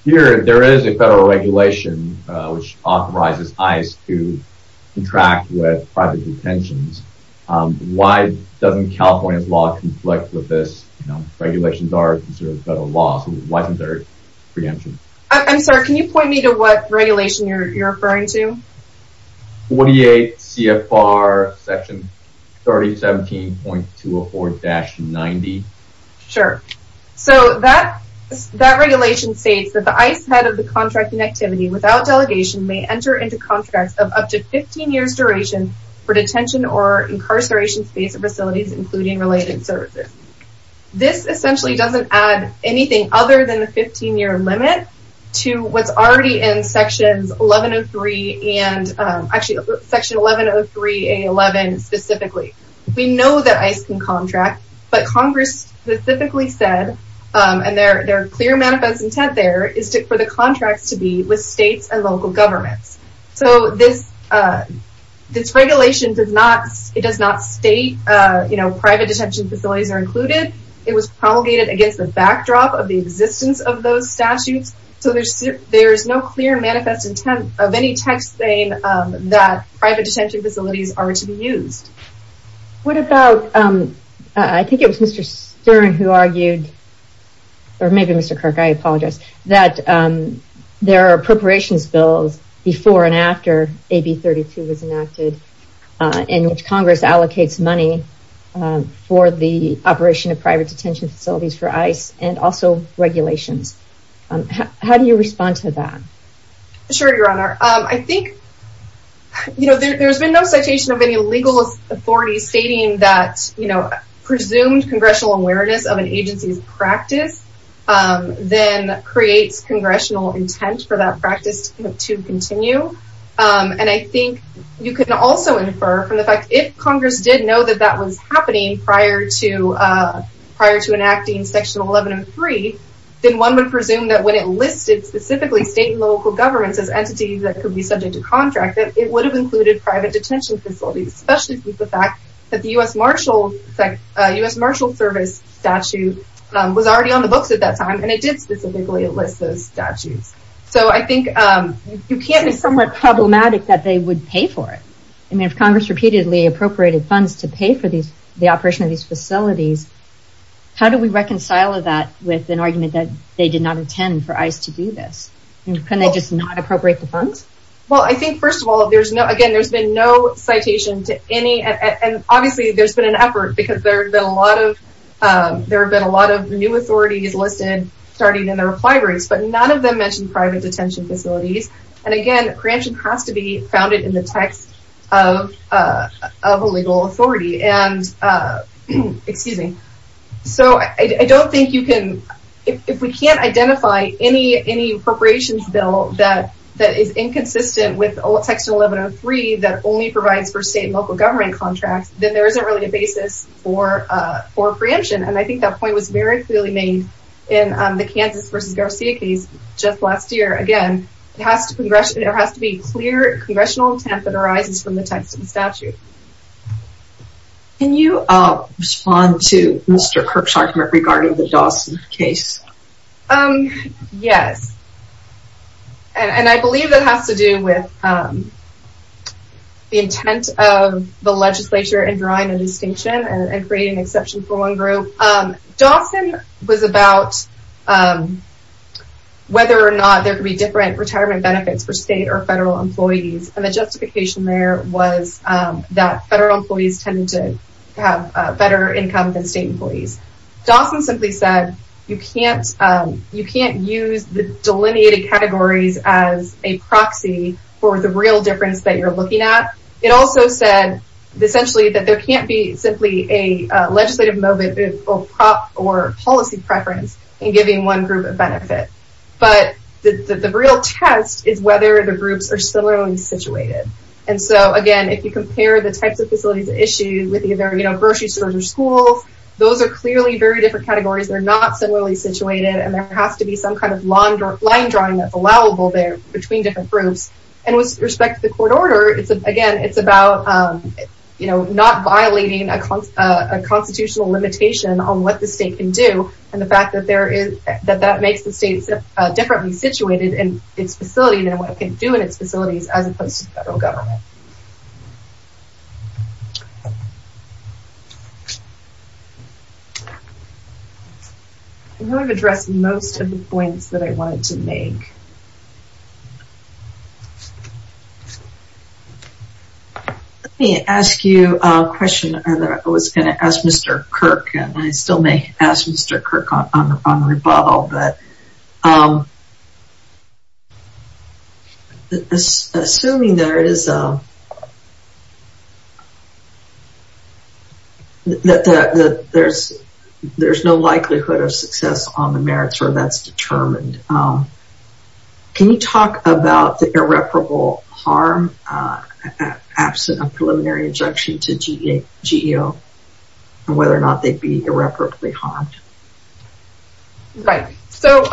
Here, there is a federal regulation which authorizes ICE to contract with private detentions. Why doesn't California's law conflict with this? Regulations are considered federal laws. Why isn't there preemption? I'm sorry, can you point me to what regulation you're referring to? 48 CFR Section 3017.204-90. Sure. That regulation states that the ICE head of the contracting activity without delegation may enter into contracts of up to 15 years duration for detention or incarceration-based facilities, including related services. This essentially doesn't add anything other than the 15-year limit to what's already in Section 1103A11 specifically. We know that ICE can contract, but Congress specifically said, and there are clear manifest intent there, is for the contracts to be with states and local governments. This regulation does not state private detention facilities are included. It was promulgated against the backdrop of the existence of those statutes, so there's no clear manifest intent of any text saying that private detention facilities are to be used. What about, I think it was Mr. Stern who argued, or maybe Mr. Kirk, I apologize, that there are appropriations bills before and after AB 32 was enacted in which Congress allocates money for the operation of private detention facilities for ICE and also regulations. How do you respond to that? Sure, Your Honor. I think there's been no citation of any legal authorities stating that presumed congressional awareness of an agency's practice then creates congressional intent for that practice to continue. I think you can also infer from the fact that if Congress did know that that was happening prior to enacting Section 1103, then one would presume that when it listed specifically state and local governments as entities that could be subject to contract, that it would have included private detention facilities, especially with the fact that the U.S. Marshal Service statute was already on the books at that time and it did specifically list those statutes. So I think you can't... It's somewhat problematic that they would pay for it. I mean, if Congress repeatedly appropriated funds to pay for the operation of these facilities, how do we reconcile that with an argument that they did not intend for ICE to do this? Couldn't they just not appropriate the funds? Well, I think, first of all, again, there's been no citation to any... and obviously there's been an effort because there have been a lot of new authorities listed starting in the reply race, but none of them mentioned private detention facilities. And again, preemption has to be founded in the text of a legal authority. And, excuse me, so I don't think you can... If we can't identify any appropriations bill that is inconsistent with Section 1103 that only provides for state and local government contracts, then there isn't really a basis for preemption. And I think that point was very clearly made in the Kansas v. Garcia case just last year. Again, there has to be clear congressional intent that arises from the text of the statute. Can you respond to Mr. Kirkshartner regarding the Dawson case? Yes. And I believe it has to do with the intent of the legislature in drawing a distinction and creating an exception for one group. Dawson was about whether or not there could be different retirement benefits for state or federal employees, and the justification there was that federal employees tended to have better income than state employees. Dawson simply said you can't use the delineated categories as a proxy for the real difference that you're looking at. It also said, essentially, that there can't be simply a legislative moment of prop or policy preference in giving one group a benefit. But the real test is whether the groups are similarly situated. And so, again, if you compare the types of facilities issued with either grocery stores or schools, those are clearly very different categories. They're not similarly situated, and there has to be some kind of line drawing that's allowable there between different groups. And with respect to the court order, again, it's about not violating a constitutional limitation on what the state can do, and the fact that that makes the state differently situated in its facility than what it can do in its facilities as opposed to the federal government. I know I've addressed most of the points that I wanted to make. Let me ask you a question. I was going to ask Mr. Kirk, and I still may ask Mr. Kirk on the rebuttal, but assuming that there's no likelihood of success on the merits where that's determined, can you talk about the irreparable harm absent a preliminary injunction to GEO and whether or not they'd be irreparably harmed? Right. So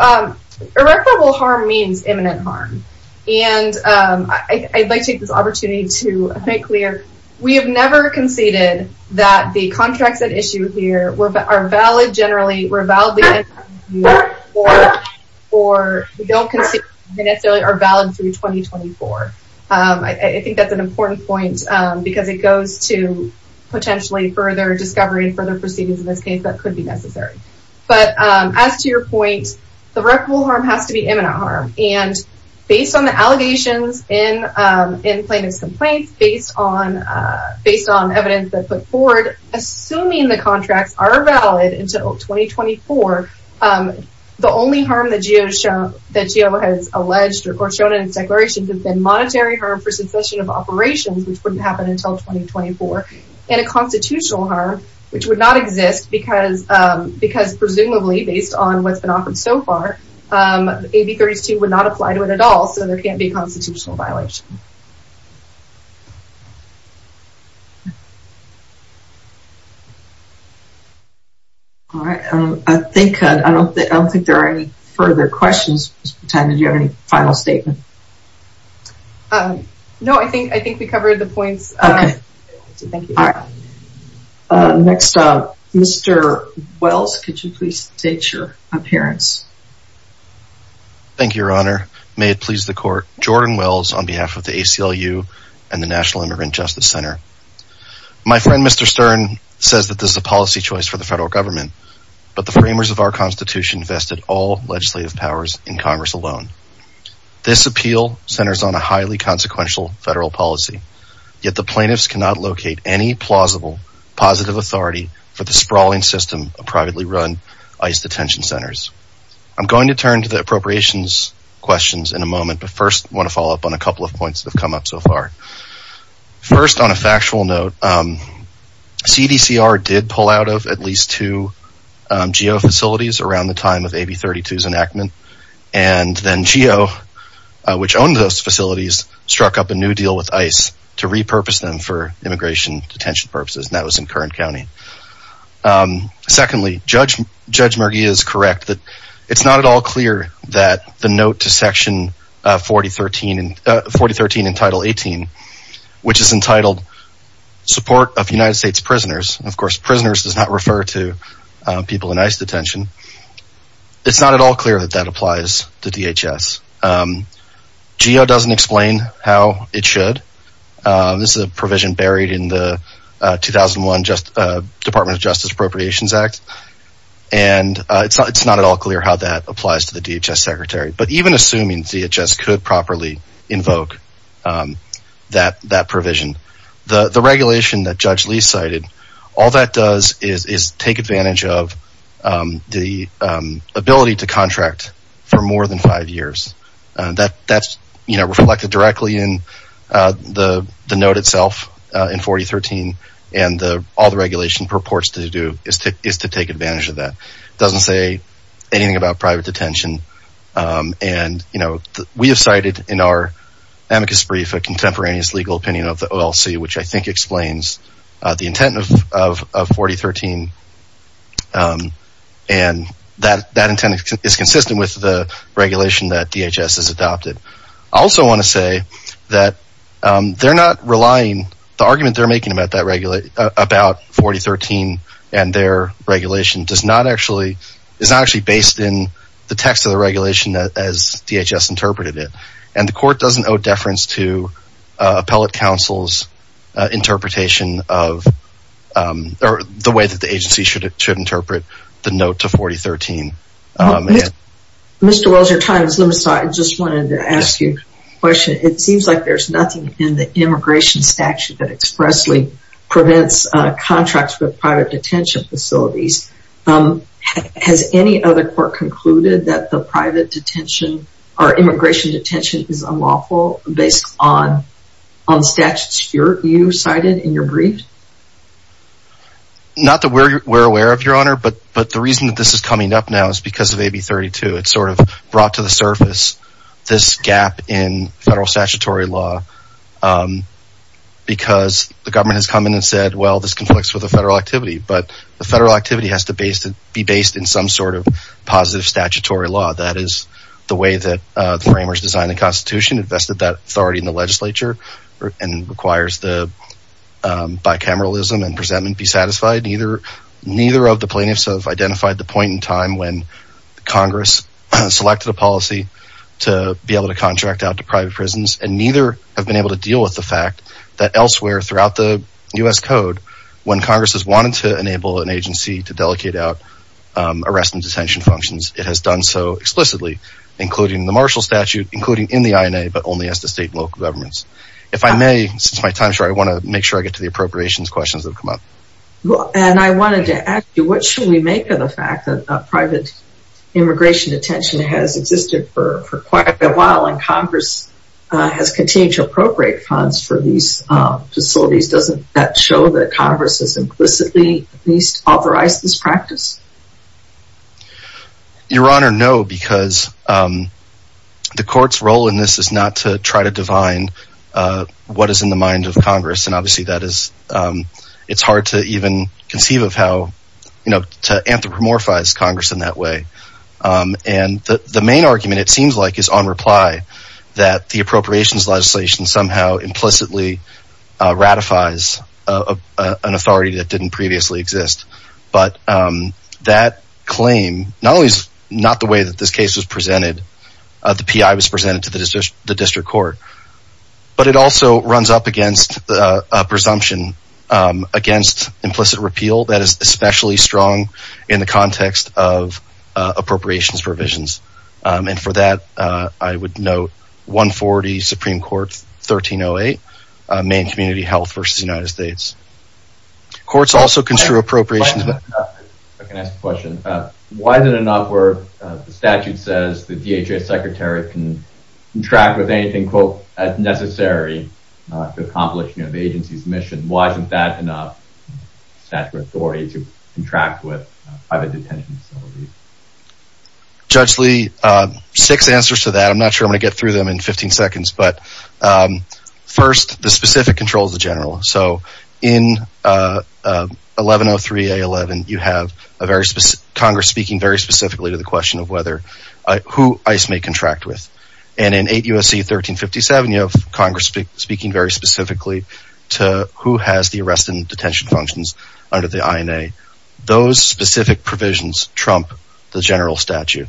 irreparable harm means imminent harm, and I'd like to take this opportunity to make clear we have never conceded that the contracts at issue here are valid generally, or we don't consider they necessarily are valid through 2024. I think that's an important point because it goes to potentially further discovery and further proceedings in this case that could be necessary. But as to your point, the irreparable harm has to be imminent harm, and based on the allegations in plaintiff's complaints, based on evidence that's put forward, assuming the contracts are valid until 2024, the only harm that GEO has alleged or shown in its declarations has been monetary harm for succession of operations, which wouldn't happen until 2024, and a constitutional harm, which would not exist because presumably, based on what's been offered so far, AB 32 would not apply to it at all, so there can't be a constitutional violation. All right. I don't think there are any further questions. Ms. Bertanda, do you have any final statement? No, I think we covered the points. Okay. Thank you. All right. Next up, Mr. Wells, could you please state your appearance? Thank you, Your Honor. May it please the Court, Jordan Wells on behalf of the ACLU and the National Immigrant Justice Center. My friend, Mr. Stern, says that this is a policy choice for the federal government, but the framers of our Constitution vested all legislative powers in Congress alone. This appeal centers on a highly consequential federal policy, yet the plaintiffs cannot locate any plausible positive authority for the sprawling system of privately run ICE detention centers. I'm going to turn to the appropriations questions in a moment, but first I want to follow up on a couple of points that have come up so far. First, on a factual note, CDCR did pull out of at least two GEO facilities around the time of AB 32's enactment, and then GEO, which owned those facilities, struck up a new deal with ICE to repurpose them for immigration detention purposes, and that was in Kern County. Secondly, Judge Mergia is correct that it's not at all clear that the note to Section 4013 in Title 18, which is entitled Support of United States Prisoners, of course prisoners does not refer to people in ICE detention, it's not at all clear that that applies to DHS. GEO doesn't explain how it should. This is a provision buried in the 2001 Department of Justice Appropriations Act, and it's not at all clear how that applies to the DHS secretary. But even assuming DHS could properly invoke that provision, the regulation that Judge Lee cited, all that does is take advantage of the ability to contract for more than five years. That's reflected directly in the note itself in 4013, and all the regulation purports to do is to take advantage of that. It doesn't say anything about private detention, and we have cited in our amicus brief a contemporaneous legal opinion of the OLC, which I think explains the intent of 4013, and that intent is consistent with the regulation that DHS has adopted. I also want to say that they're not relying, the argument they're making about 4013 and their regulation is not actually based in the text of the regulation as DHS interpreted it, and the court doesn't owe deference to appellate counsel's interpretation of the way that the agency should interpret the note to 4013. Mr. Welch, your time is limited, so I just wanted to ask you a question. It seems like there's nothing in the immigration statute that expressly prevents contracts with private detention facilities. Has any other court concluded that the private detention or immigration detention is unlawful based on statutes you cited in your brief? Not that we're aware of, Your Honor, but the reason that this is coming up now is because of AB 32. It sort of brought to the surface this gap in federal statutory law because the government has come in and said, well, this conflicts with the federal activity, but the federal activity has to be based in some sort of positive statutory law. That is the way that the framers designed the Constitution, invested that authority in the legislature, and requires the bicameralism and presentment be satisfied. Neither of the plaintiffs have identified the point in time when Congress selected a policy to be able to contract out to private prisons, and neither have been able to deal with the fact that elsewhere throughout the U.S. Code, when Congress has wanted to enable an agency to delegate out arrest and detention functions, it has done so explicitly, including the Marshall Statute, including in the INA, but only as the state and local governments. If I may, since my time is short, I want to make sure I get to the appropriations questions that have come up. And I wanted to ask you, what should we make of the fact that private immigration detention has existed for quite a while and Congress has continued to appropriate funds for these facilities? Doesn't that show that Congress has implicitly at least authorized this practice? Your Honor, no, because the court's role in this is not to try to divine what is in the mind of Congress, and obviously that is, it's hard to even conceive of how, you know, to anthropomorphize Congress in that way. And the main argument, it seems like, is on reply that the appropriations legislation somehow implicitly ratifies an authority that didn't previously exist. But that claim, not the way that this case was presented, the P.I. was presented to the district court, but it also runs up against a presumption against implicit repeal that is especially strong in the context of appropriations provisions. And for that, I would note 140 Supreme Court 1308, Maine Community Health v. United States. Courts also construe appropriations... If I can ask a question, why is it not where the statute says that DHS secretaries can contract with anything, quote, as necessary to accomplish the agency's mission? Why isn't that enough statutory to contract with private detention facilities? Judge Lee, six answers to that. I'm not sure I'm going to get through them in 15 seconds, but first, the specific controls of general. So in 1103A11, you have Congress speaking very specifically to the question of who ICE may contract with. And in 8 U.S.C. 1357, you have Congress speaking very specifically to who has the arrest and detention functions under the INA. Those specific provisions trump the general statute.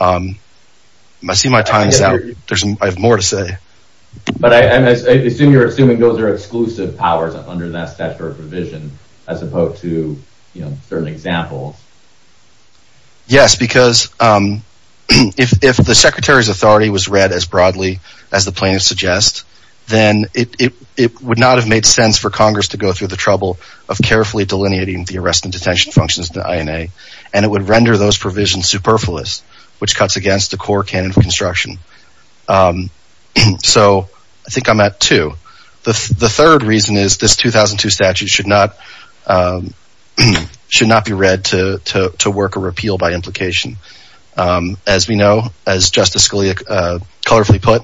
I see my time's up. I have more to say. But I assume you're assuming those are exclusive powers under that statutory provision as opposed to certain examples. Yes, because if the secretary's authority was read as broadly as the plaintiffs suggest, then it would not have made sense for Congress to go through the trouble of carefully delineating the arrest and detention functions in the INA, and it would render those provisions superfluous, which cuts against the core canon of construction. So I think I'm at two. The third reason is this 2002 statute should not be read to work a repeal by implication. As we know, as Justice Scalia colorfully put,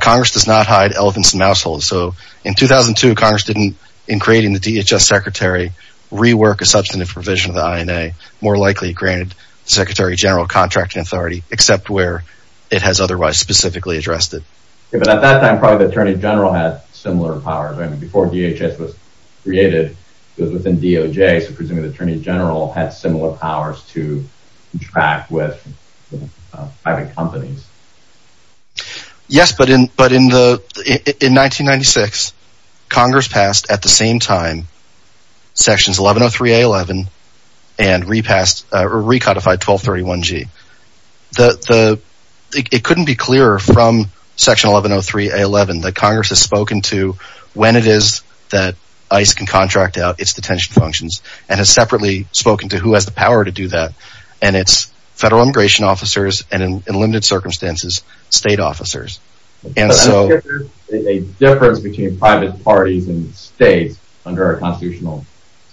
Congress does not hide elephants in mouse holes. So in 2002, Congress didn't, in creating the DHS secretary, rework a substantive provision of the INA, more likely granted the secretary general contracting authority, except where it has otherwise specifically addressed it. But at that time, probably the attorney general had similar powers. Before DHS was created, it was within DOJ, so presumably the attorney general had similar powers to contract with private companies. Yes, but in 1996, Congress passed at the same time sections 1103A11 and recodified 1231G. It couldn't be clearer from section 1103A11 that Congress has spoken to when it is that ICE can contract out its detention functions, and has separately spoken to who has the power to do that. And it's federal immigration officers, and in limited circumstances, state officers. And so... But that's a difference between private parties and states under our constitutional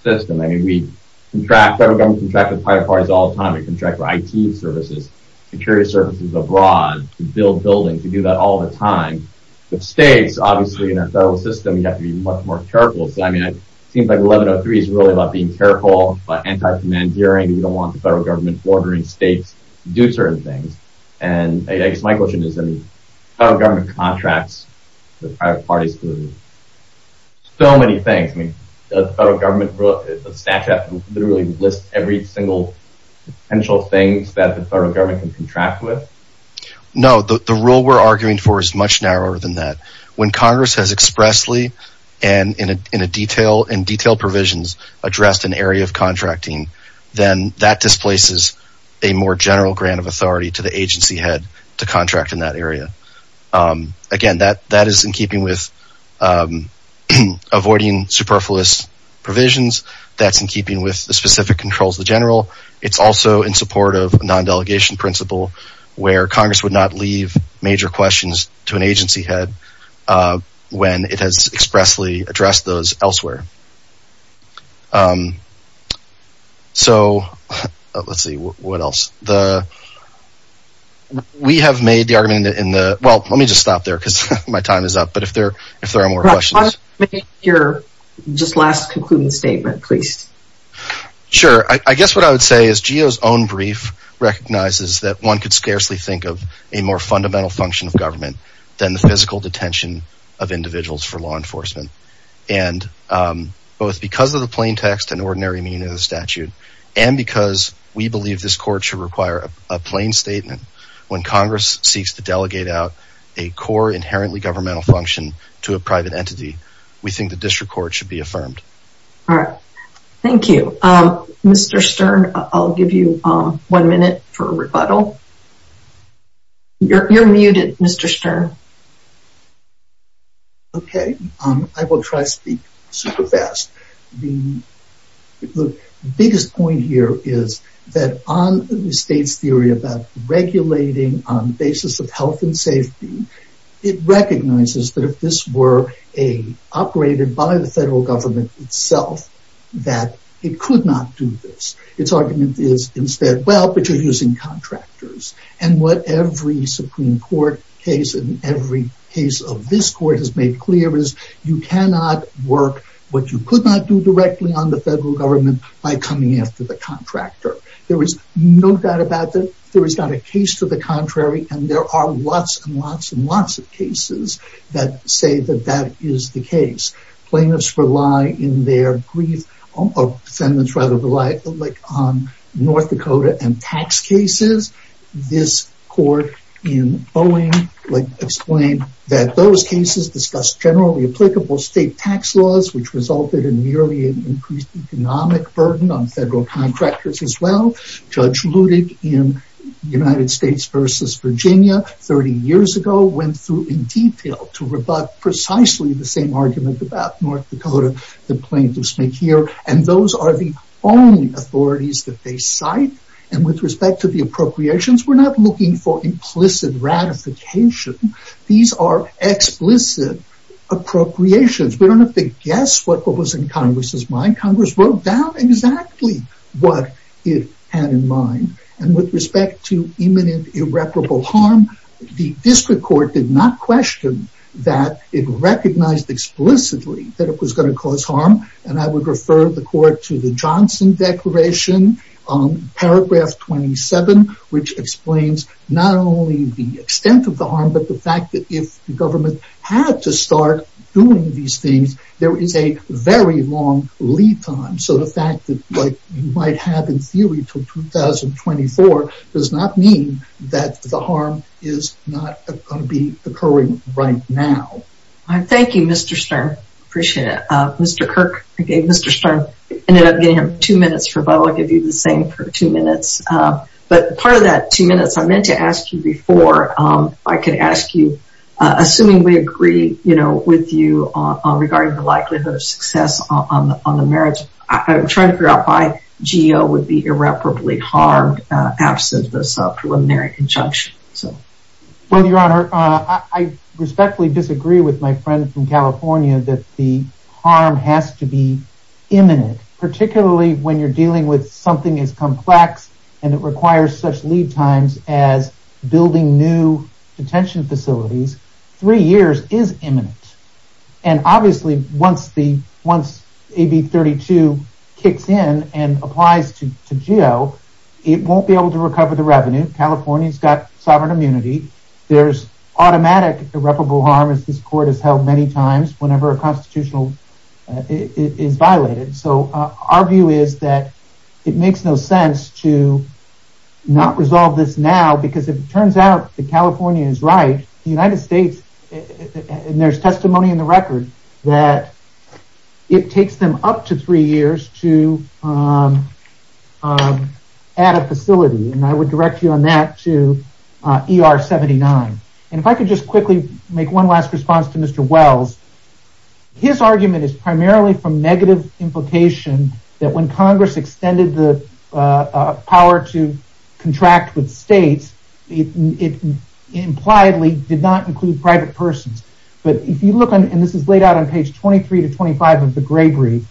system. I mean, we contract, federal government contracts with private parties all the time. We contract for IT services, security services abroad, to build buildings. We do that all the time. But states, obviously in a federal system, you have to be much more careful. So, I mean, it seems like 1103 is really about being careful, about anti-commandeering. We don't want the federal government ordering states to do certain things. And I guess my question is, I mean, federal government contracts with private parties to do so many things. I mean, does the federal government, does the statute literally list every single potential thing that the federal government can contract with? No, the rule we're arguing for is much narrower than that. When Congress has expressly and in detailed provisions addressed an area of contracting, then that displaces a more general grant of authority to the agency head to contract in that area. Again, that is in keeping with avoiding superfluous provisions. That's in keeping with the specific controls of the general. It's also in support of non-delegation principle where Congress would not leave major questions to an agency head when it has expressly addressed those elsewhere. So, let's see, what else? We have made the argument in the, well, let me just stop there because my time is up, but if there are more questions. Just last concluding statement, please. Sure. I guess what I would say is GEO's own brief recognizes that one could scarcely think of a more fundamental function of government than the physical detention of individuals for law enforcement. And both because of the plain text and ordinary meaning of the statute and because we believe this court should require a plain statement when Congress seeks to delegate out a core inherently governmental function to a private entity, we think the district court should be affirmed. All right. Thank you. Mr. Stern, I'll give you one minute for rebuttal. You're muted, Mr. Stern. Okay. I will try to speak super fast. The biggest point here is that on the state's theory about regulating on the basis of health and safety, it recognizes that if this were operated by the federal government itself, that it could not do this. Its argument is instead, well, but you're using contractors. And what every Supreme Court case and every case of this court has made clear is you cannot work what you could not do directly on the federal government by coming after the contractor. There is no doubt about that. There is not a case to the contrary, and there are lots and lots and lots of cases that say that that is the case. Plaintiffs rely in their brief, or defendants rather, rely on North Dakota and tax cases. This court in Boeing explained that those cases discussed generally applicable state tax laws, which resulted in nearly an increased economic burden on federal contractors as well. Judge Ludig in United States versus Virginia 30 years ago went through in detail to rebut precisely the same argument about North Dakota that plaintiffs make here. And those are the only authorities that they cite. And with respect to the appropriations, we're not looking for implicit ratification. These are explicit appropriations. We don't have to guess what was in Congress's mind. Congress wrote down exactly what it had in mind. And with respect to imminent irreparable harm, the district court did not question that it recognized explicitly that it was going to cause harm. And I would refer the court to the Johnson Declaration, paragraph 27, which explains not only the extent of the harm, but the fact that if the government had to start doing these things, there is a very long lead time. So the fact that you might have in theory until 2024 does not mean that the harm is not going to be occurring right now. Thank you, Mr. Stern. I appreciate it. Mr. Kirk, again, Mr. Stern. I ended up giving him two minutes, but I'll give you the same for two minutes. But part of that two minutes I meant to ask you before, I could ask you, assuming we agree with you regarding the likelihood of success on the merits, I'm trying to figure out why GEO would be irreparably harmed absent this preliminary injunction. Well, Your Honor, I respectfully disagree with my friend from California that the harm has to be imminent, particularly when you're dealing with something as complex and it requires such lead times as building new detention facilities. Three years is imminent. And obviously once AB 32 kicks in and applies to GEO, it won't be able to recover the revenue. California's got sovereign immunity. There's automatic irreparable harm as this court has held many times whenever a constitutional is violated. So our view is that it makes no sense to not resolve this now because if it turns out that California is right, the United States, and there's testimony in the record, that it takes them up to three years to add a facility. And I would direct you on that to ER 79. And if I could just quickly make one last response to Mr. Wells. His argument is primarily from negative implication that when Congress extended the power to contract with states, it impliedly did not include private persons. But if you look, and this is laid out on page 23 to 25 of the gray brief,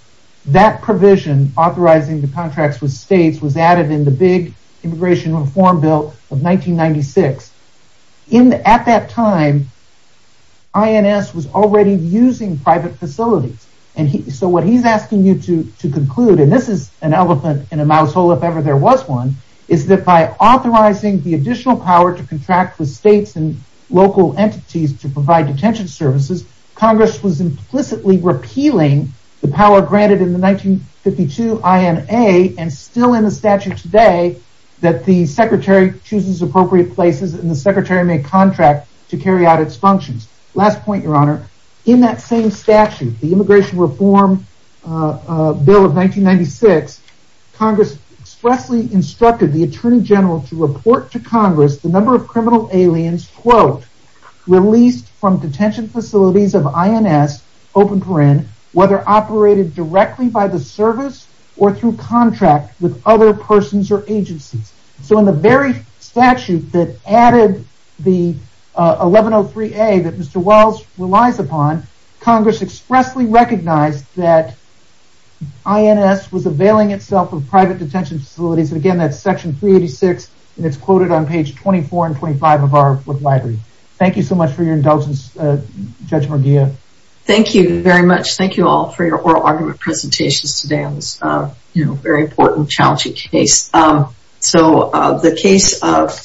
that provision authorizing the contracts with states was added in the big immigration reform bill of 1996. At that time, INS was already using private facilities. So what he's asking you to conclude, and this is an elephant in a mouse hole if ever there was one, is that by authorizing the additional power to contract with states and local entities to provide detention services, Congress was implicitly repealing the power granted in the 1952 INA and still in the statute today that the secretary chooses appropriate places and the secretary may contract to carry out its functions. Last point, your honor. In that same statute, the immigration reform bill of 1996, Congress expressly instructed the attorney general to report to Congress the number of criminal aliens, quote, released from detention facilities of INS, open paren, whether operated directly by the service or through contract with other persons or agencies. So in the very statute that added the 1103A that Mr. Wells relies upon, Congress expressly recognized that INS was availing itself of private detention facilities. Again, that's section 386 and it's quoted on page 24 and 25 of our library. Thank you so much for your indulgence, Judge Merguia. Thank you very much. Thank you all for your oral argument presentations today on this very important, challenging case. So the case of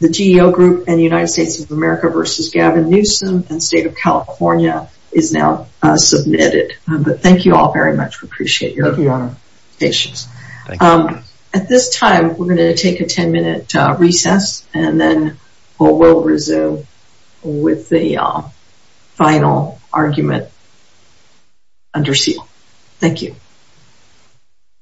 the GEO Group and the United States of America versus Gavin Newsom and State of California is now submitted. But thank you all very much. We appreciate your presentations. At this time, we're going to take a 10-minute recess and then we'll resume with the final argument under seal. Thank you.